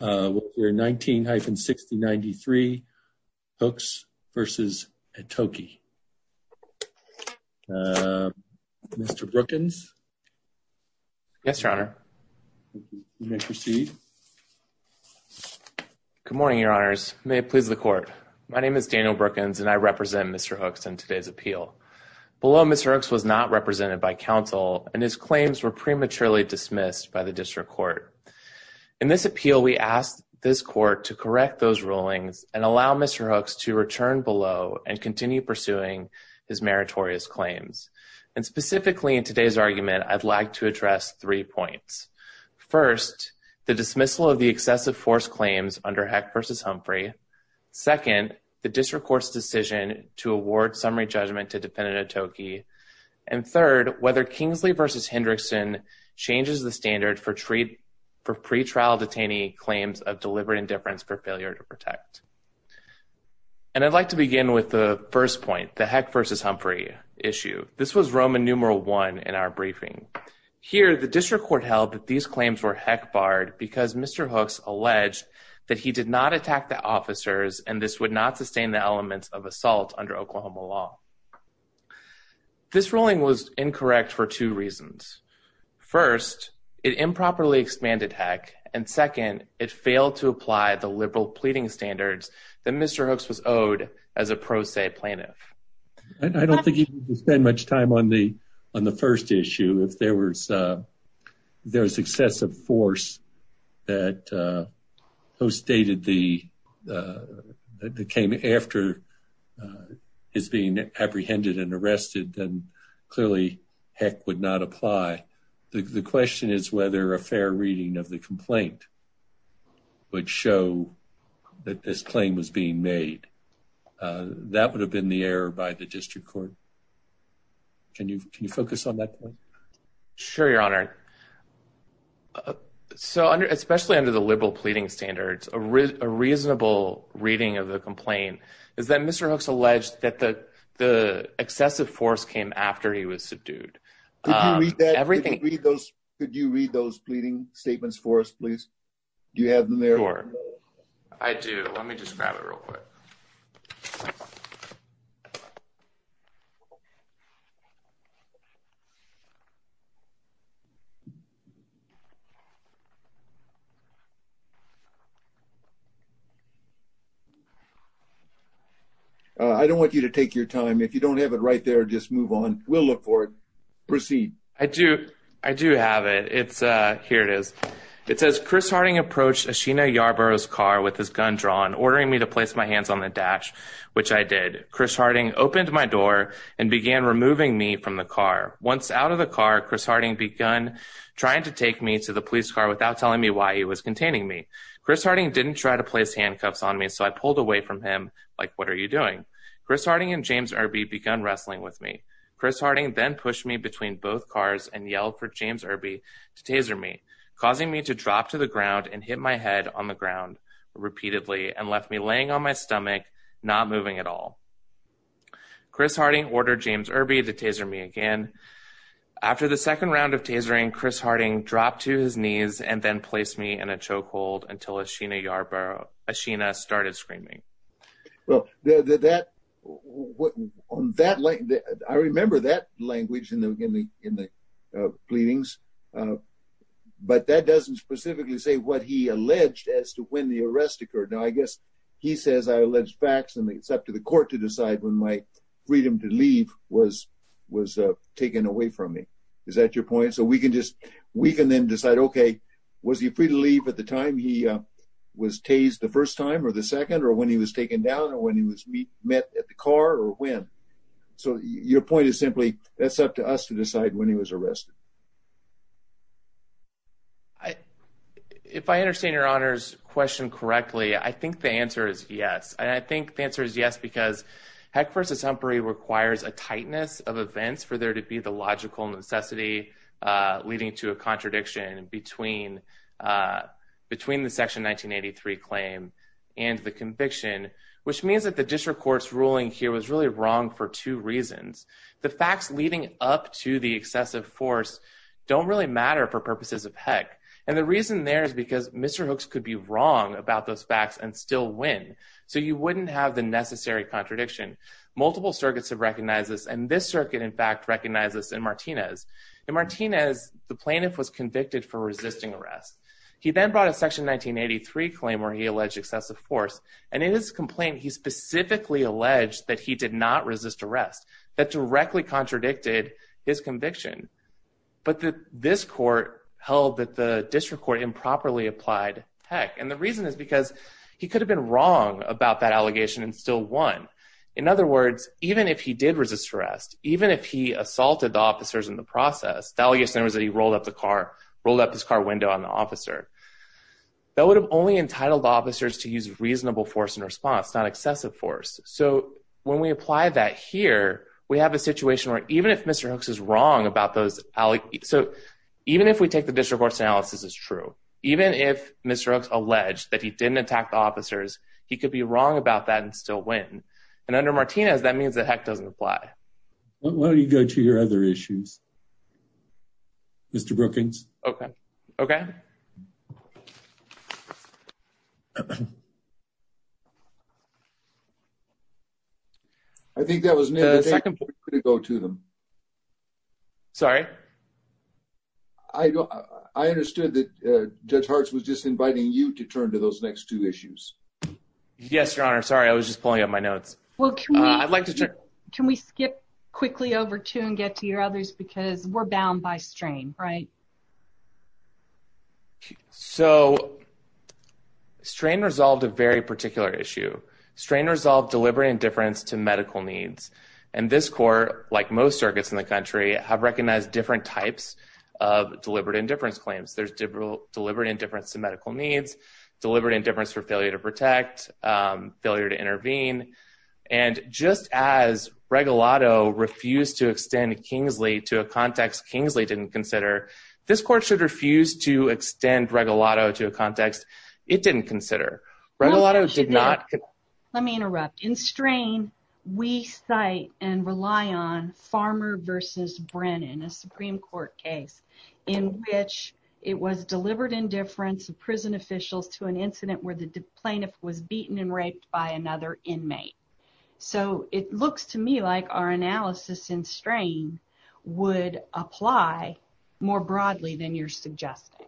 Hooks v. Atoki My name is Daniel Brookins and I represent Mr. Hooks in today's appeal. Below Mr. Hooks was not represented by counsel and his claims were prematurely dismissed by the District Court. In this appeal, we ask this Court to correct those rulings and allow Mr. Hooks to return below and continue pursuing his meritorious claims. And specifically in today's argument, I'd like to address three points. First, the dismissal of the excessive force claims under Heck v. Humphrey. Second, the District Court's decision to award summary judgment to defendant Atoki. And third, whether Kingsley v. Hendrickson changes the standard for pretrial detainee claims of deliberate indifference for failure to protect. And I'd like to begin with the first point, the Heck v. Humphrey issue. This was Roman numeral 1 in our briefing. Here, the District Court held that these claims were Heck-barred because Mr. Hooks alleged that he did not attack the officers and this would not sustain the elements of assault under Oklahoma law. This ruling was incorrect for two reasons. First, it improperly expanded Heck and second, it failed to apply the liberal pleading standards that Mr. Hooks was owed as a pro se plaintiff. I don't think you can spend much time on the first issue if there was excessive force that was stated that came after his being apprehended and arrested and clearly Heck would not apply. The question is whether a fair reading of the complaint would show that this claim was being made. That would have been the error by the District Court. Can you focus on that point? Sure, Your Honor. So, especially under the liberal pleading standards, a reasonable reading of the complaint is that Mr. Hooks alleged that the excessive force came after he was subdued. Could you read those pleading statements for us, please? Do you have them there? Sure. I do. Let me just grab it real quick. I don't want you to take your time. If you don't have it right there, just move on. We'll look for it. Proceed. I do. I do have it. Here it is. It says, Chris Harding approached Ashina Yarborough's car with his gun drawn, ordering me to place my hands on the dash, which I did. Chris Harding opened my door and began removing me from the car. Once out of the car, Chris Harding began trying to take me to the police car without telling me why he was containing me. Chris Harding didn't try to place handcuffs on me, so I pulled away from him like, what are you doing? Chris Harding and James Irby began wrestling with me. Chris Harding then pushed me between both cars and yelled for James Irby to taser me, causing me to drop to the ground and hit my head on the ground repeatedly and left me laying on my stomach, not moving at all. Chris Harding ordered James Irby to taser me again. After the second round of tasering, Chris Harding dropped to his knees and then placed me in a chokehold until Ashina Yarborough, Ashina started screaming. Well, that, on that, I remember that language in the pleadings, but that doesn't specifically say what he alleged as to when the arrest occurred. Now, I guess he says I allege facts and it's up to the court to decide when my freedom to leave was taken away from me. Is that your point? So we can just, we can then decide, okay, was he free to leave at the time he was tased the first time or the second or when he was taken down or when he was met at the car or when? So your point is simply, that's up to us to decide when he was arrested. I, if I understand your honors question correctly, I think the answer is yes. And I think the answer is yes, because Heck versus Humphrey requires a tightness of events for there to be the logical necessity, uh, leading to a contradiction between, uh, between the section 1983 claim and the conviction, which means that the district court's ruling here was really wrong for two reasons. The facts leading up to the excessive force don't really matter for purposes of Heck. And the reason there is because Mr. Hooks could be wrong about those facts and still win. So you wouldn't have the necessary contradiction. Multiple circuits have recognized this and this circuit in fact, recognizes in Martinez. In Martinez, the plaintiff was convicted for resisting arrest. He then brought a section 1983 claim where he alleged excessive force and in his complaint, he specifically alleged that he did not resist arrest that directly contradicted his conviction, but that this court held that the district court improperly applied Heck. And the reason is because he could have been wrong about that allegation and still won. In other words, even if he did resist arrest, even if he assaulted the officers in the process, the allegation was that he rolled up the car, rolled up his car window on the officer, that So when we apply that here, we have a situation where even if Mr. Hooks is wrong about those allegations, so even if we take the district court's analysis as true, even if Mr. Hooks alleged that he didn't attack the officers, he could be wrong about that and still win. And under Martinez, that means that Heck doesn't apply. Why don't you go to your other issues, Mr. Brookings? Okay. Okay. I think that was the second point to go to them. Sorry. I don't. I understood that Judge Harts was just inviting you to turn to those next two issues. Yes, Your Honor. Sorry. I was just pulling up my notes. Well, I'd like to check. Can we skip quickly over to and get to your others? Because we're bound by strain, right? So strain resolved a very particular issue. Strain resolved deliberate indifference to medical needs. And this court, like most circuits in the country, have recognized different types of deliberate indifference claims. There's deliberate indifference to medical needs, deliberate indifference for failure to protect, failure to intervene. And just as Regalado refused to extend Kingsley to a context Kingsley didn't consider, this court should refuse to extend Regalado to a context it didn't consider. Regalado did not. Let me interrupt. In strain, we cite and rely on Farmer versus Brennan, a Supreme Court case in which it was deliberate indifference of prison officials to an incident where the plaintiff was beaten and raped by another inmate. So it looks to me like our analysis in strain would apply more broadly than you're suggesting.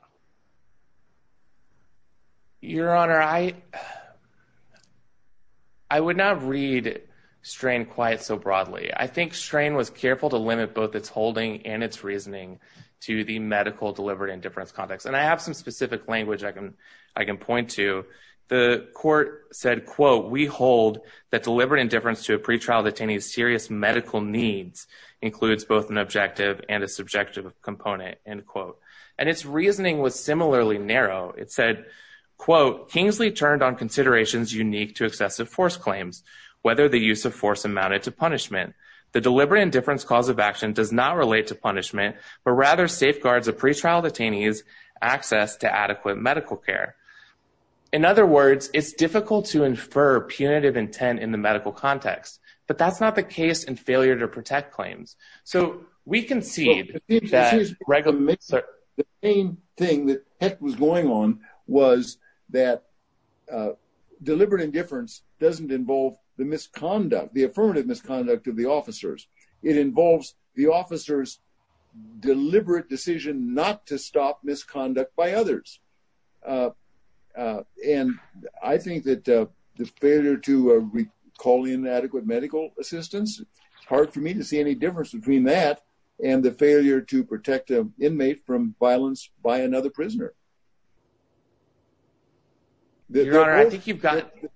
Your Honor, I would not read strain quite so broadly. I think strain was careful to limit both its holding and its reasoning to the medical deliberate indifference context. And I have some specific language I can point to. The court said, quote, we hold that deliberate indifference to a pretrial detainee's serious medical needs includes both an objective and a subjective component, end quote. And its reasoning was similarly narrow. It said, quote, Kingsley turned on considerations unique to excessive force claims, whether the use of force amounted to punishment. The deliberate indifference cause of action does not relate to punishment but rather safeguards a pretrial detainee's access to adequate medical care. In other words, it's difficult to infer punitive intent in the medical context. But that's not the case in failure to protect claims. So we concede that regular misconduct. The main thing that was going on was that deliberate indifference doesn't involve the misconduct, the affirmative misconduct of the officers. It involves the officers' deliberate decision not to stop misconduct by others. And I think that the failure to call in adequate medical assistance, it's hard for me to see any difference between that and the failure to protect an inmate from violence by another prisoner. The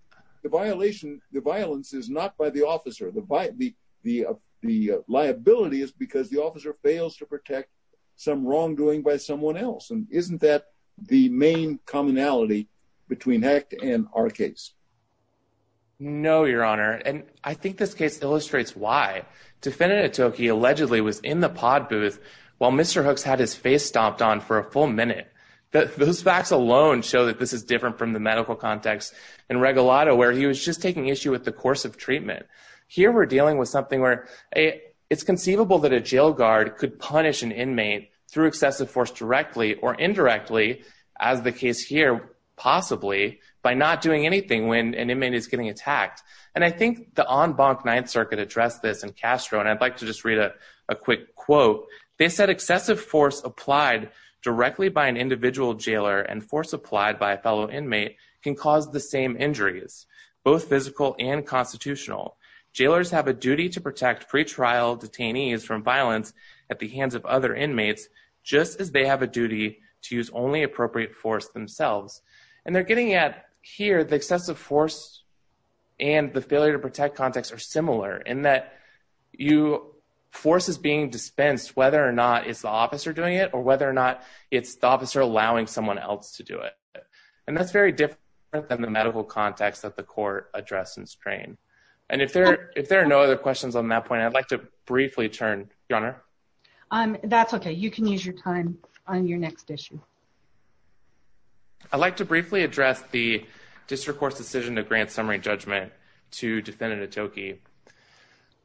violation, the violence is not by the officer. The liability is because the officer fails to protect some wrongdoing by someone else. And isn't that the main commonality between HECT and our case? No, Your Honor. And I think this case illustrates why. Defendant Atoke allegedly was in the pod booth while Mr. Hooks had his face stomped on for a full minute. Those facts alone show that this is different from the medical context in Regalado where he was just taking issue with the course of treatment. Here we're dealing with something where it's conceivable that a jail guard could punish an inmate through excessive force directly or indirectly, as the case here possibly, by not doing anything when an inmate is getting attacked. And I think the en banc Ninth Circuit addressed this in Castro, and I'd like to just read a quick quote. They said, just as they have a duty to use only appropriate force themselves. And they're getting at, here, the excessive force and the failure to protect context are similar in that force is being dispensed whether or not it's the officer doing it or whether or not it's the officer allowing someone else to do it. And that's very different than the medical context that the court addressed in Strain. And if there are no other questions on that point, I'd like to briefly turn, Your Honor. That's okay. You can use your time on your next issue. I'd like to briefly address the district court's decision to grant summary judgment to defendant Atoke.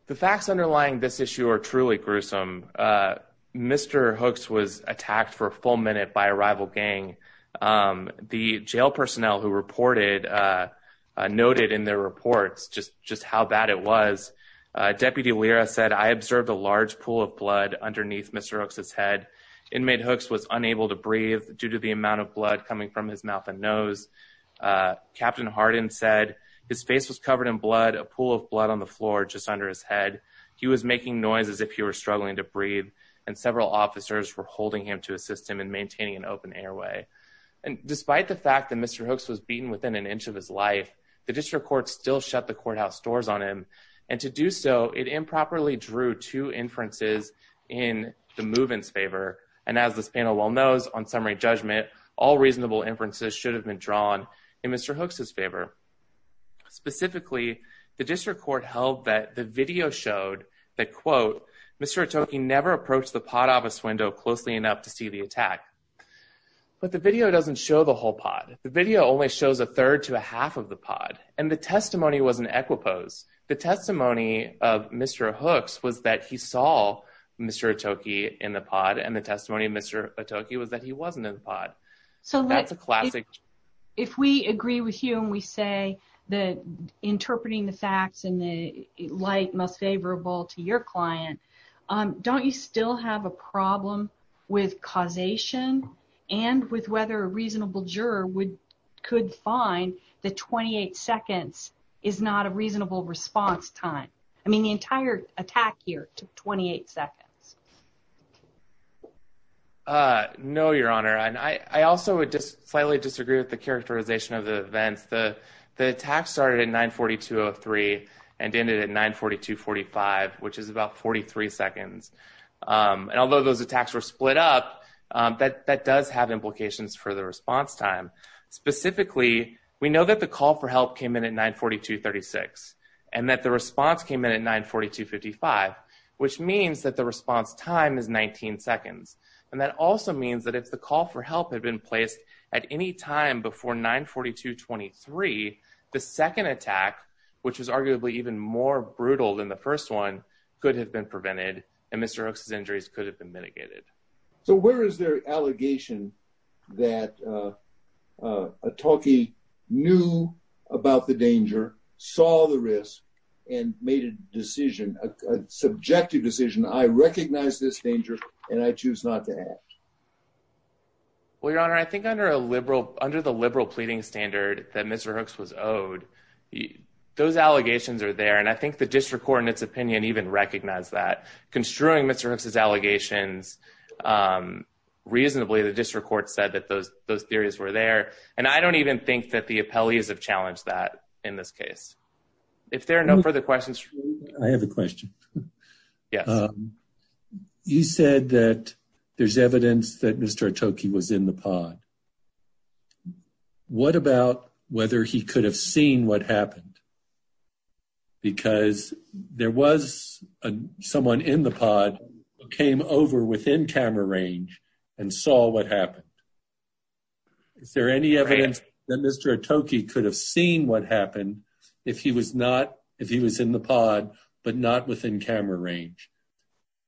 The facts underlying this issue are truly gruesome. Mr. Hooks was attacked for a full minute by a rival gang. The jail personnel who reported noted in their reports just how bad it was. Deputy Lira said, I observed a large pool of blood underneath Mr. Hooks' head. Inmate Hooks was unable to breathe due to the amount of blood coming from his mouth and nose. Captain Harden said his face was covered in blood, a pool of blood on the floor just under his head. He was making noise as if he were struggling to breathe and several officers were holding him to assist him in maintaining an open airway. And despite the fact that Mr. Hooks was beaten within an inch of his life, the district court still shut the courthouse doors on him. And to do so, it improperly drew two inferences in the movement's favor. And as this panel well knows, on summary judgment, all reasonable inferences should have been drawn in Mr. Hooks' favor. Specifically, the district court held that the video showed that, quote, Mr. Atoke never approached the pod office window closely enough to see the attack. But the video doesn't show the whole pod. The video only shows a third to a half of the pod. And the testimony was an equipose. The testimony of Mr. Hooks was that he saw Mr. Atoke in the pod and the testimony of Mr. Atoke was that he wasn't in the pod. So that's a classic. If we agree with you and we say that interpreting the facts in the light most favorable to your client, don't you still have a problem with causation and with whether a reasonable juror could find that 28 seconds is not a reasonable response time? I mean, the entire attack here took 28 seconds. No, Your Honor. I also would just slightly disagree with the characterization of the events. The attack started at 9.42.03 and ended at 9.42.45, which is about 43 seconds. And although those attacks were split up, that does have implications for the response time. Specifically, we know that the call for help came in at 9.42.36 and that the response came in at 9.42.55, which means that the response time is 19 seconds. And that also means that if the call for help had been placed at any time before 9.42.23, the second attack, which was arguably even more brutal than the first one, could have been prevented and Mr. Hook's injuries could have been mitigated. So where is there an allegation that a talkie knew about the danger, saw the risk, and made a decision, a subjective decision, I recognize this danger and I choose not to act? Well, Your Honor, I think under the liberal pleading standard that Mr. Hooks was owed, those allegations are there and I think the district court in its opinion even recognized that. Construing Mr. Hooks' allegations reasonably, the district court said that those theories were there and I don't even think that the appellees have challenged that in this case. If there are no further questions. I have a question. Yes. You said that there's evidence that Mr. Atoke was in the pod. What about whether he could have seen what happened? Because there was someone in the pod who came over within camera range and saw what happened. Is there any evidence that Mr. Atoke could have seen what happened if he was not, but not within camera range?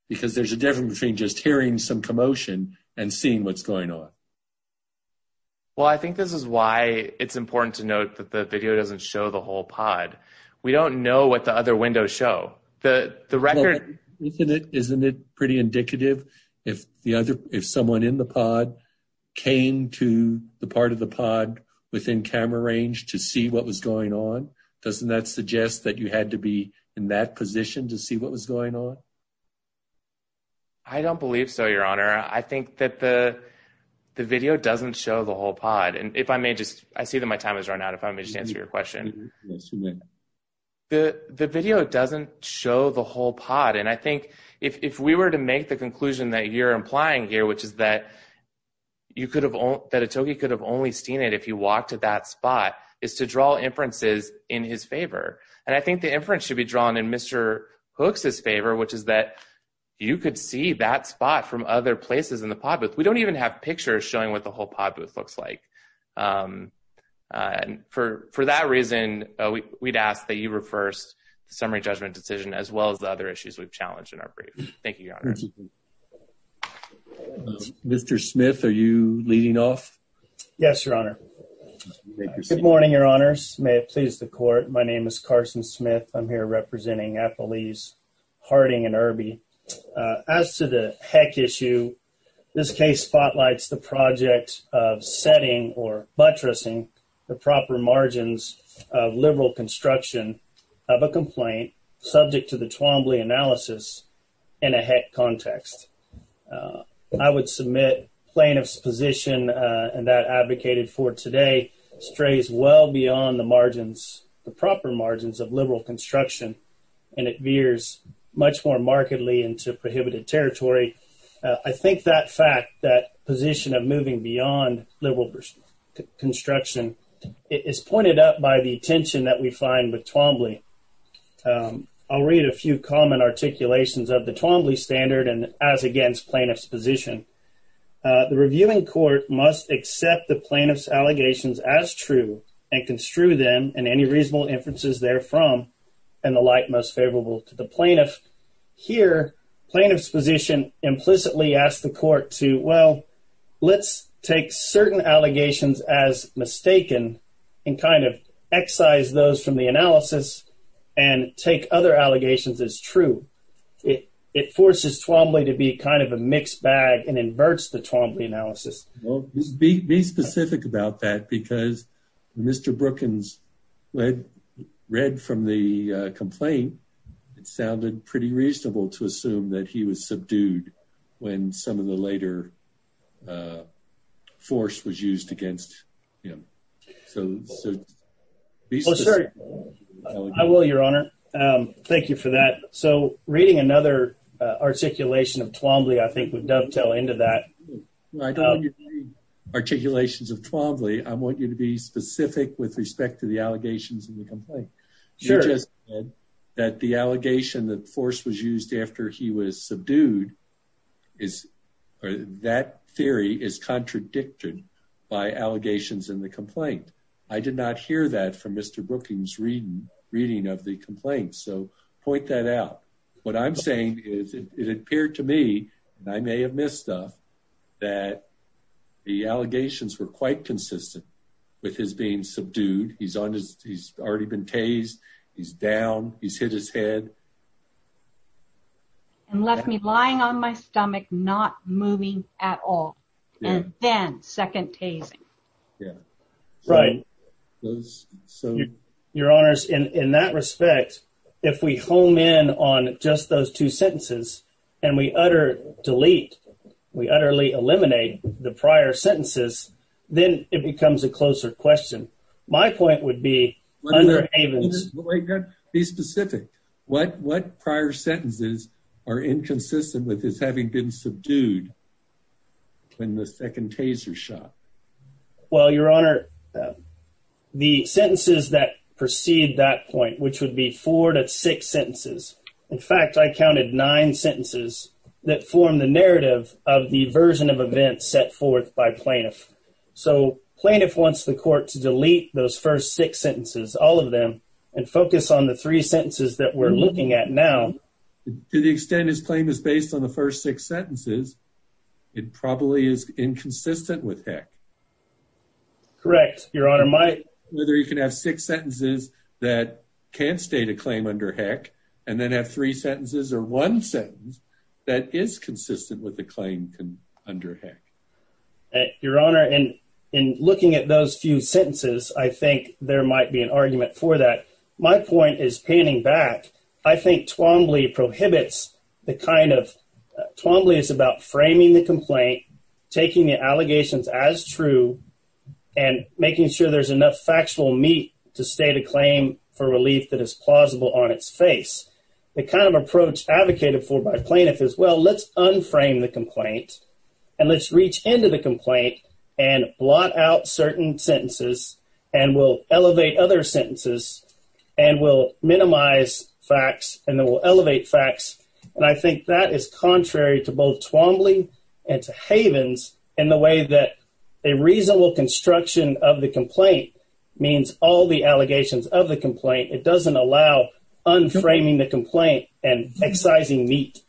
Because there's a difference between just hearing some commotion and seeing what's going on. Well, I think this is why it's important to note that the video doesn't show the whole pod. We don't know what the other windows show. Isn't it pretty indicative if someone in the pod came to the part of the pod within camera range to see what was going on? Doesn't that suggest that you had to be in that position to see what was going on? I don't believe so, Your Honor. I think that the video doesn't show the whole pod. And if I may just, I see that my time has run out. If I may just answer your question. Yes, you may. The video doesn't show the whole pod. And I think if we were to make the conclusion that you're implying here, which is that Atoke could have only seen it if he walked to that spot, is to draw inferences in his favor. And I think the inference should be drawn in Mr. Hooks' favor, which is that you could see that spot from other places in the pod booth. We don't even have pictures showing what the whole pod booth looks like. And for that reason, we'd ask that you reverse the summary judgment decision as well as the other issues we've challenged in our brief. Thank you, Your Honor. Mr. Smith, are you leading off? Yes, Your Honor. Good morning, Your Honors. May it please the Court. My name is Carson Smith. I'm here representing Applebee's, Harding, and Irby. As to the heck issue, this case spotlights the project of setting or buttressing the proper margins of liberal construction of a complaint subject to the Twombly analysis in a heck context. I would submit plaintiff's position, and that advocated for today, strays well beyond the margins, the proper margins of liberal construction, and it veers much more markedly into prohibited territory. I think that fact, that position of moving beyond liberal construction, is pointed out by the tension that we find with Twombly. I'll read a few common articulations of the Twombly standard, and as against plaintiff's position. The reviewing court must accept the plaintiff's allegations as true and construe them in any reasonable inferences therefrom and the like most favorable to the plaintiff. Here, plaintiff's position implicitly asks the court to, well, let's take certain allegations as mistaken and kind of excise those from the analysis and take other allegations as true. It forces Twombly to be kind of a mixed bag and inverts the Twombly analysis. Be specific about that because Mr. Brookins read from the complaint it sounded pretty reasonable to assume that he was subdued when some of the later force was used against him. So be specific. I will, Your Honor. Thank you for that. So reading another articulation of Twombly I think would dovetail into that. I don't want you to read articulations of Twombly. I want you to be specific with respect to the allegations in the complaint. You just said that the allegation that force was used after he was subdued, that theory is contradicted by allegations in the complaint. I did not hear that from Mr. Brookings' reading of the complaint. So point that out. What I'm saying is it appeared to me, and I may have missed stuff, that the allegations were quite consistent with his being subdued. He's already been tased. He's down. He's hit his head. And left me lying on my stomach, not moving at all, and then second tasing. Right. Your Honors, in that respect, if we hone in on just those two sentences and we utterly delete, we utterly eliminate the prior sentences, then it becomes a closer question. My point would be under Havens. Be specific. What prior sentences are inconsistent with his having been subdued when the second tase was shot? Well, Your Honor, the sentences that precede that point, which would be four to six sentences. In fact, I counted nine sentences that form the narrative of the version of events set forth by plaintiff. So plaintiff wants the court to delete those first six sentences, all of them, and focus on the three sentences that we're looking at now. To the extent his claim is based on the first six sentences, it probably is inconsistent with Heck. Correct. Your Honor, my. Whether you can have six sentences that can't state a claim under Heck and then have three sentences or one sentence that is consistent with the claim under Heck. Your Honor, in looking at those few sentences, I think there might be an argument for that. My point is panning back. I think Twombly prohibits the kind of. Twombly is about framing the complaint, taking the allegations as true, and making sure there's enough factual meat to state a claim for relief that is plausible on its face. The kind of approach advocated for by plaintiff is, well, let's unframe the complaint and let's reach into the complaint and blot out certain sentences and we'll elevate other sentences and we'll minimize facts and then we'll elevate facts. And I think that is contrary to both Twombly and to Havens in the way that a reasonable construction of the complaint means all the allegations of the complaint. It doesn't allow unframing the complaint and excising meat.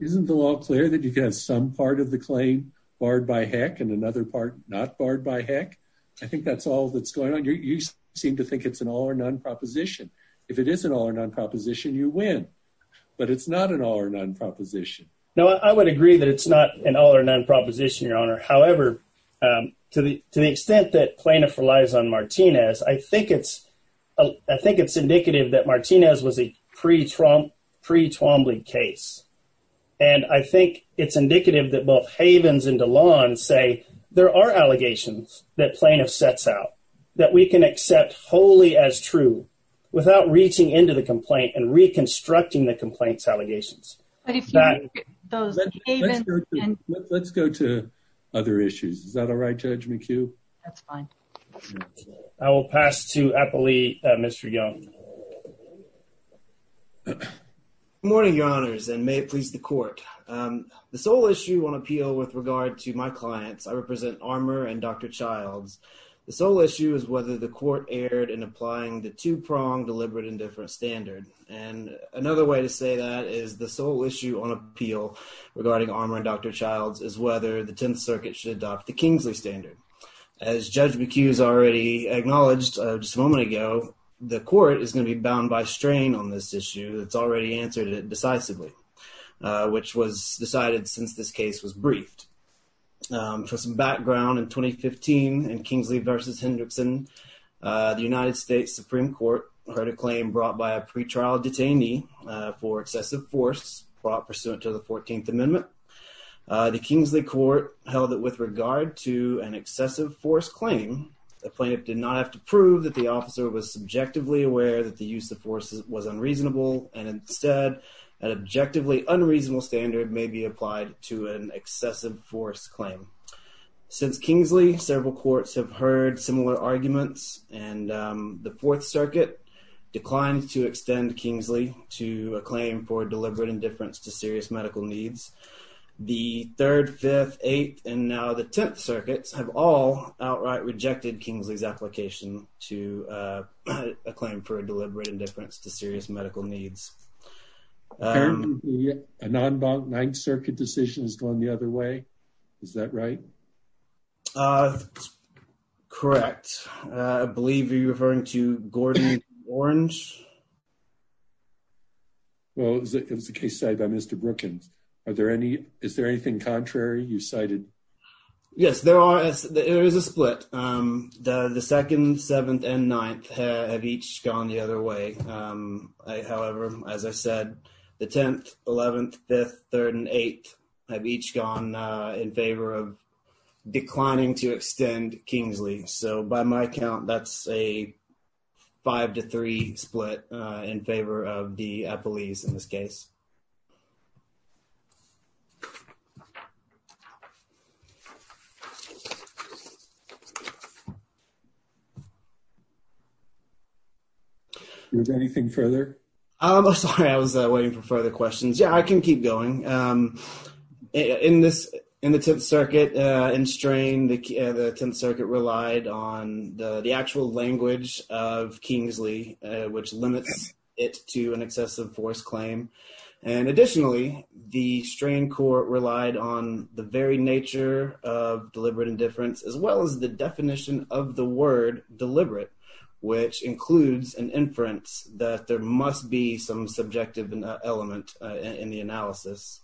Isn't the law clear that you can have some part of the claim barred by Heck and another part not barred by Heck? I think that's all that's going on. You seem to think it's an all or none proposition. If it is an all or none proposition, you win. But it's not an all or none proposition. No, I would agree that it's not an all or none proposition, Your Honor. However, to the extent that plaintiff relies on Martinez, I think it's indicative that Martinez was a pre-Twombly case. And I think it's indicative that both Havens and DeLon say there are allegations that plaintiff sets out that we can accept wholly as true without reaching into the complaint and reconstructing the complaint's allegations. Let's go to other issues. Is that all right, Judge McHugh? That's fine. I will pass to Applee, Mr. Young. Good morning, Your Honors, and may it please the court. The sole issue on appeal with regard to my clients, I represent Armour and Dr. Childs. The sole issue is whether the court erred in applying the two-pronged deliberate indifference standard. And another way to say that is the sole issue on appeal regarding Armour and Dr. Childs is whether the Tenth Circuit should adopt the Kingsley standard. As Judge McHugh has already acknowledged just a moment ago, the court is going to be bound by strain on this issue. It's already answered it decisively, which was decided since this case was briefed. For some background, in 2015, in Kingsley v. Hendrickson, the United States Supreme Court heard a claim brought by a pretrial detainee for excessive force brought pursuant to the 14th Amendment. The Kingsley court held that with regard to an excessive force claim, the plaintiff did not have to prove that the officer was subjectively aware that the use of force was unreasonable, and instead an objectively unreasonable standard may be applied to an individual. Since Kingsley, several courts have heard similar arguments, and the Fourth Circuit declined to extend Kingsley to a claim for deliberate indifference to serious medical needs. The Third, Fifth, Eighth, and now the Tenth Circuits have all outright rejected Kingsley's application to a claim for deliberate indifference to serious medical needs. Apparently a non-bonk Ninth Circuit decision has gone the other way. Is that right? Correct. I believe you're referring to Gordon and Orange. Well, it was a case cited by Mr. Brookins. Is there anything contrary you cited? Yes, there is a split. The Second, Seventh, and Ninth have each gone the other way. However, as I said, the Tenth, Eleventh, Fifth, Third, and Eighth have each gone in favor of declining to extend Kingsley. So by my count, that's a five to three split in favor of the Eppleys in this case. Is there anything further? I'm sorry, I was waiting for further questions. Yeah, I can keep going. In the Tenth Circuit, in Strain, the Tenth Circuit relied on the actual language of Kingsley, which limits it to an excessive force claim. And additionally, the Strain Court relied on the very nature of deliberate indifference, as well as the definition of the word deliberate, which includes an inference that there must be some subjective element in the analysis.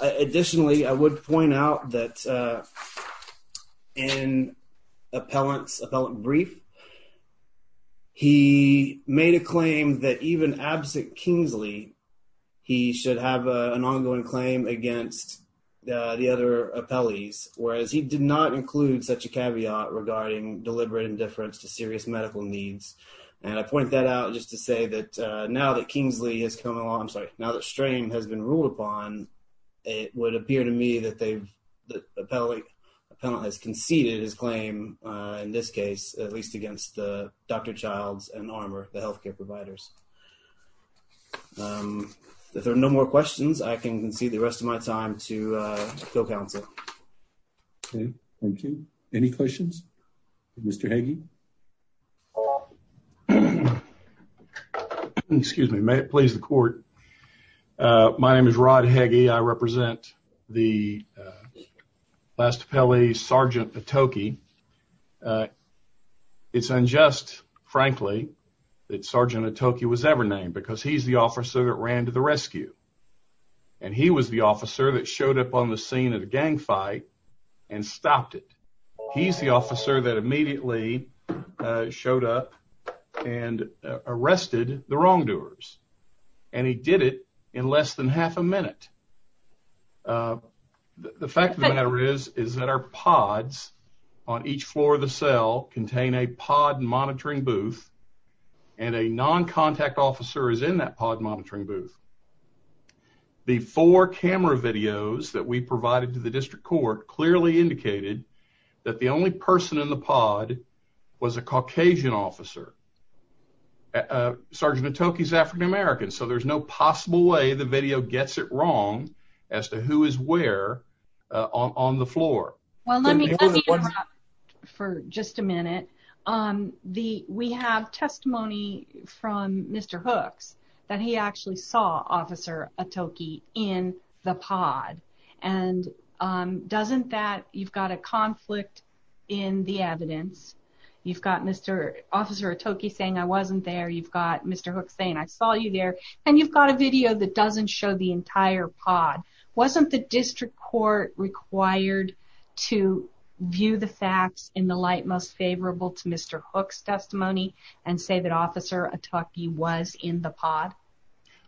Additionally, I would point out that in Appellant's brief, he made a claim that even absent Kingsley, he should have an ongoing claim against the other Appellees, whereas he did not include such a caveat regarding deliberate indifference to serious medical needs. And I point that out just to say that now that Kingsley has come along, I'm sorry, now that Strain has been ruled upon, it would appear to me that Appellant has conceded his claim, in this case, at least against the Dr. Childs and Armour, the healthcare providers. If there are no more questions, I can concede the rest of my time to the counsel. Okay, thank you. Any questions for Mr. Hagee? Excuse me. May it please the court. My name is Rod Hagee. I represent the Last Appellee, Sergeant Atoke. It's unjust, frankly, that Sergeant Atoke was ever named, because he's the officer that ran to the rescue. And he was the officer that showed up on the scene of the gang fight and stopped it. He's the officer that immediately showed up and arrested the wrongdoers. And he did it in less than half a minute. The fact of the matter is, is that our pods on each floor of the cell contain a pod monitoring booth, and a non-contact officer is in that pod monitoring booth. The four camera videos that we provided to the district court clearly indicated that the only person in the pod was a Caucasian officer. Sergeant Atoke is African American, so there's no possible way the video gets it wrong as to who is where on the floor. Well, let me interrupt for just a minute. We have testimony from Mr. Hooks that he actually saw Officer Atoke in the pod. You've got Officer Atoke saying, I wasn't there. You've got Mr. Hooks saying, I saw you there. And you've got a video that doesn't show the entire pod. Wasn't the district court required to view the facts in the light most favorable to Mr. Hooks' testimony and say that Officer Atoke was in the pod?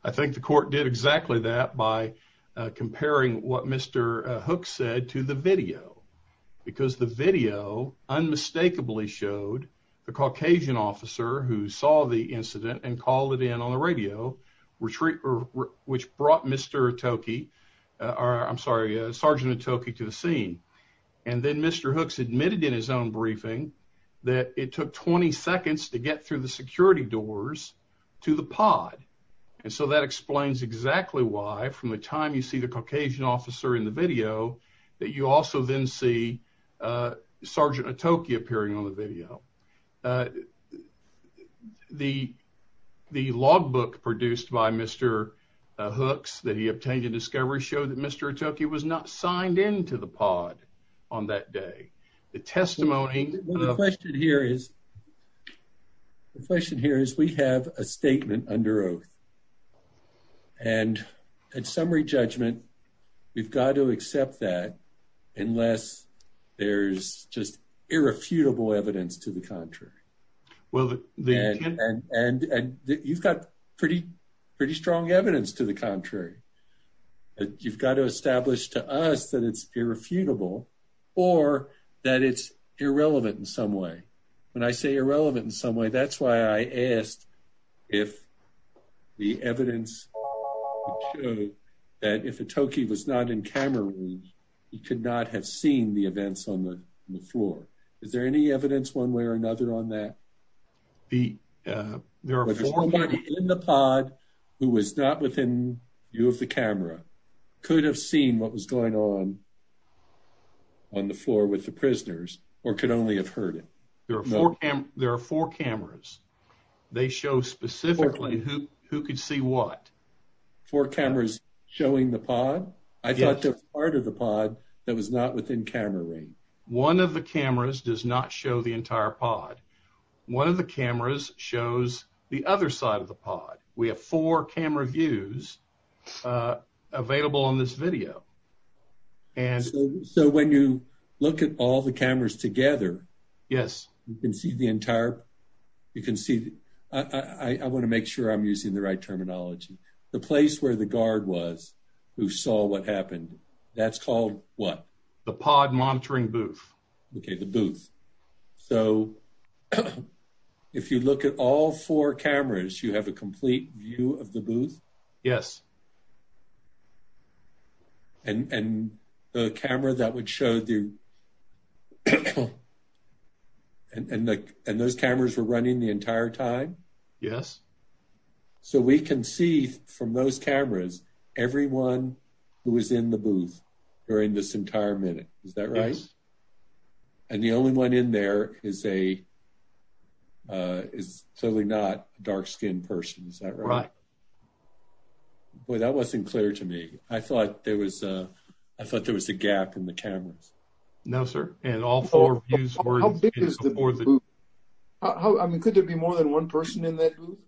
I think the court did exactly that by comparing what Mr. Hooks said to the The video clearly showed the Caucasian officer who saw the incident and called it in on the radio, which brought Mr. Atoke, I'm sorry, Sergeant Atoke to the scene. And then Mr. Hooks admitted in his own briefing that it took 20 seconds to get through the security doors to the pod. And so that explains exactly why, from the time you see the Caucasian officer in the video, that you also then see Sergeant Atoke appearing on the video. The logbook produced by Mr. Hooks that he obtained in discovery showed that Mr. Atoke was not signed into the pod on that day. The testimony. The question here is we have a statement under oath. And at summary judgment, we've got to accept that unless there's just irrefutable evidence to the contrary. And you've got pretty, pretty strong evidence to the contrary. You've got to establish to us that it's irrefutable or that it's irrelevant in some way. When I say irrelevant in some way, that's why I asked if the evidence. That if Atoke was not in camera range, he could not have seen the events on the floor. Is there any evidence one way or another on that? The there are four in the pod who was not within view of the camera. Could have seen what was going on. On the floor with the prisoners or could only have heard it. There are four cameras. They show specifically who could see what. Four cameras showing the pod. I thought that part of the pod that was not within camera range. One of the cameras does not show the entire pod. One of the cameras shows the other side of the pod. We have four camera views available on this video. And so when you look at all the cameras together, yes. You can see the entire. You can see. I want to make sure I'm using the right terminology. The place where the guard was. Who saw what happened. That's called what the pod monitoring booth. Okay. The booth. So. If you look at all four cameras, you have a complete view of the booth. Yes. Yes. Yes. And the camera that would show you. And those cameras were running the entire time. Yes. So we can see from those cameras, everyone. Who was in the booth. During this entire minute. Is that right? And the only one in there is a. The only one in there. Is totally not dark skin person. Is that right? Right. Boy, that wasn't clear to me. I thought there was a. I thought there was a gap in the cameras. No, sir. And all four. How big is the. I mean, could there be more than one person in that booth?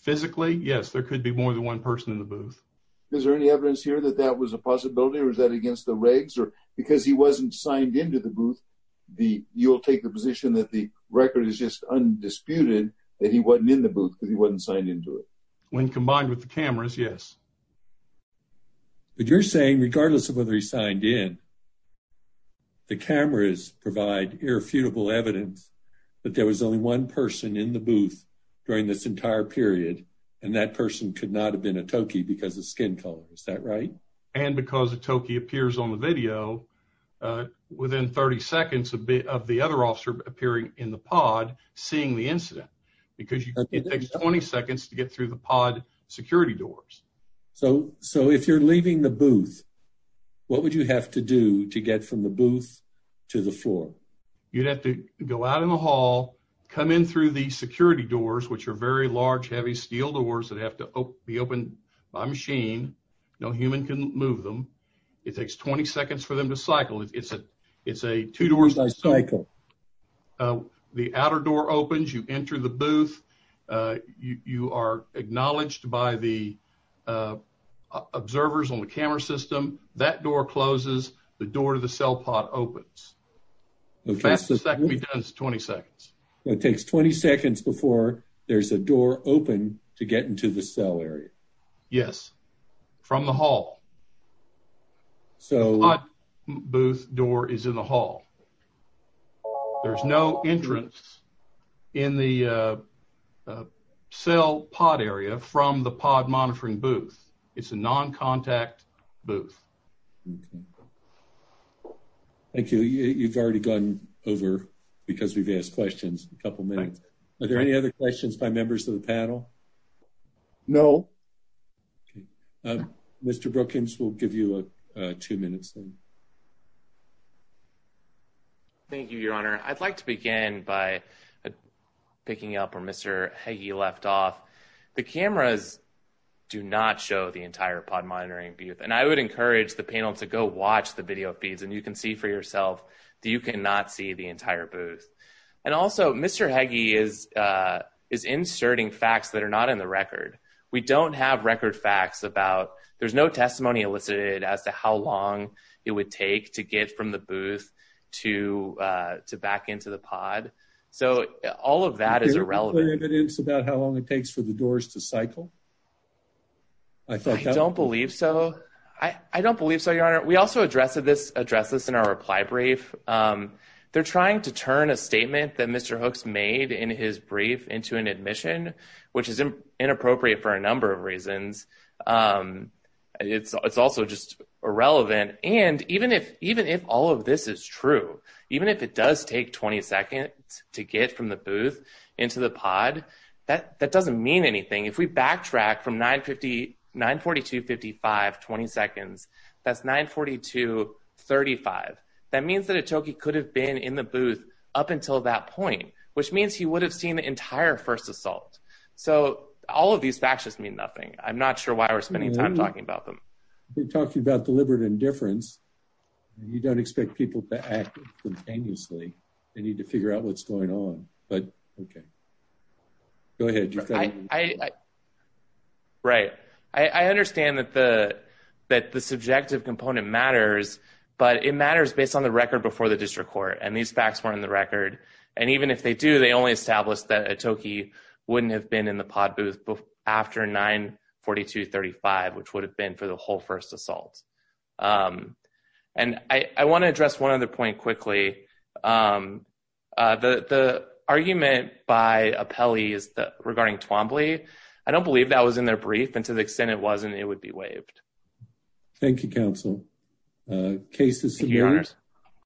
Physically. Yes. There could be more than one person in the booth. Is there any evidence here that that was a possibility? I mean, is that against the rules? Or is that against the regs or because he wasn't signed into the booth? The you'll take the position that the record is just undisputed. And he wasn't in the booth. He wasn't signed into it. When combined with the cameras. Yes. But you're saying regardless of whether he signed in. The cameras provide irrefutable evidence. But there was only one person in the booth. During this entire period. And that person could not have been a Toki because of skin color. Is that right? And because a Toki appears on the video. Within 30 seconds of B of the other officer appearing in the pod, seeing the incident. Because you can take 20 seconds to get through the pod security doors. So, so if you're leaving the booth. What would you have to do to get from the booth? To the floor. You'd have to go out in the hall. Come in through the security doors, which are very large, heavy steel doors that have to be opened by machine. No human can move them. It takes 20 seconds for them to cycle. It's a, it's a two doors. The outer door opens, you enter the booth. You are acknowledged by the. Observers on the camera system, that door closes. The door to the cell pod opens. It takes 20 seconds before there's a door open to get into the cell area. Yes. From the hall. So booth door is in the hall. There's no entrance. In the. Cell pod area from the pod monitoring booth. It's a non-contact booth. Okay. Thank you. You've already gone over. Because we've asked questions a couple of minutes. Are there any other questions by members of the panel? No. Mr. Brookings. We'll give you a two minutes. Thank you, your honor. I'd like to begin by. Picking up or Mr. Hey, you left off. The cameras. Do not show the entire pod monitoring. And I would encourage the panel to go watch the video feeds and you can see for yourself that you can not see the entire booth. And also Mr. Hagee is, is inserting facts that are not in the record. We don't have record facts about there's no testimony elicited as to how long it would take to get from the booth. To to back into the pod. So all of that is irrelevant. It's about how long it takes for the doors to cycle. I don't believe so. I don't believe so. Your honor. We also addressed this address this in our reply brief. They're trying to turn a statement that Mr. Hooks made in his brief into an admission, which is inappropriate for a number of reasons. It's, it's also just irrelevant. And even if, even if all of this is true, even if it does take 20 seconds to get from the booth into the pod, that that doesn't mean anything. If we backtrack from nine 50, nine, 42, 55, 20 seconds. That's nine 40 to 35. That means that it took, he could have been in the booth up until that point, which means he would have seen the entire first assault. So all of these facts just mean nothing. I'm not sure why we're spending time talking about them. We're talking about deliberate indifference. You don't expect people to act continuously. They need to figure out what's going on, but okay. Go ahead. I right. I understand that the, that the subjective component matters, but it matters based on the record before the district court. And these facts weren't in the record. And even if they do, they only established that a Toki wouldn't have been in the pod booth after nine 42, 35, which would have been for the whole first assault. And I want to address one other point quickly. The, the argument by a Pele is the regarding Twombly. I don't believe that was in their brief and to the extent it wasn't, it would be waived. Thank you. Counsel cases.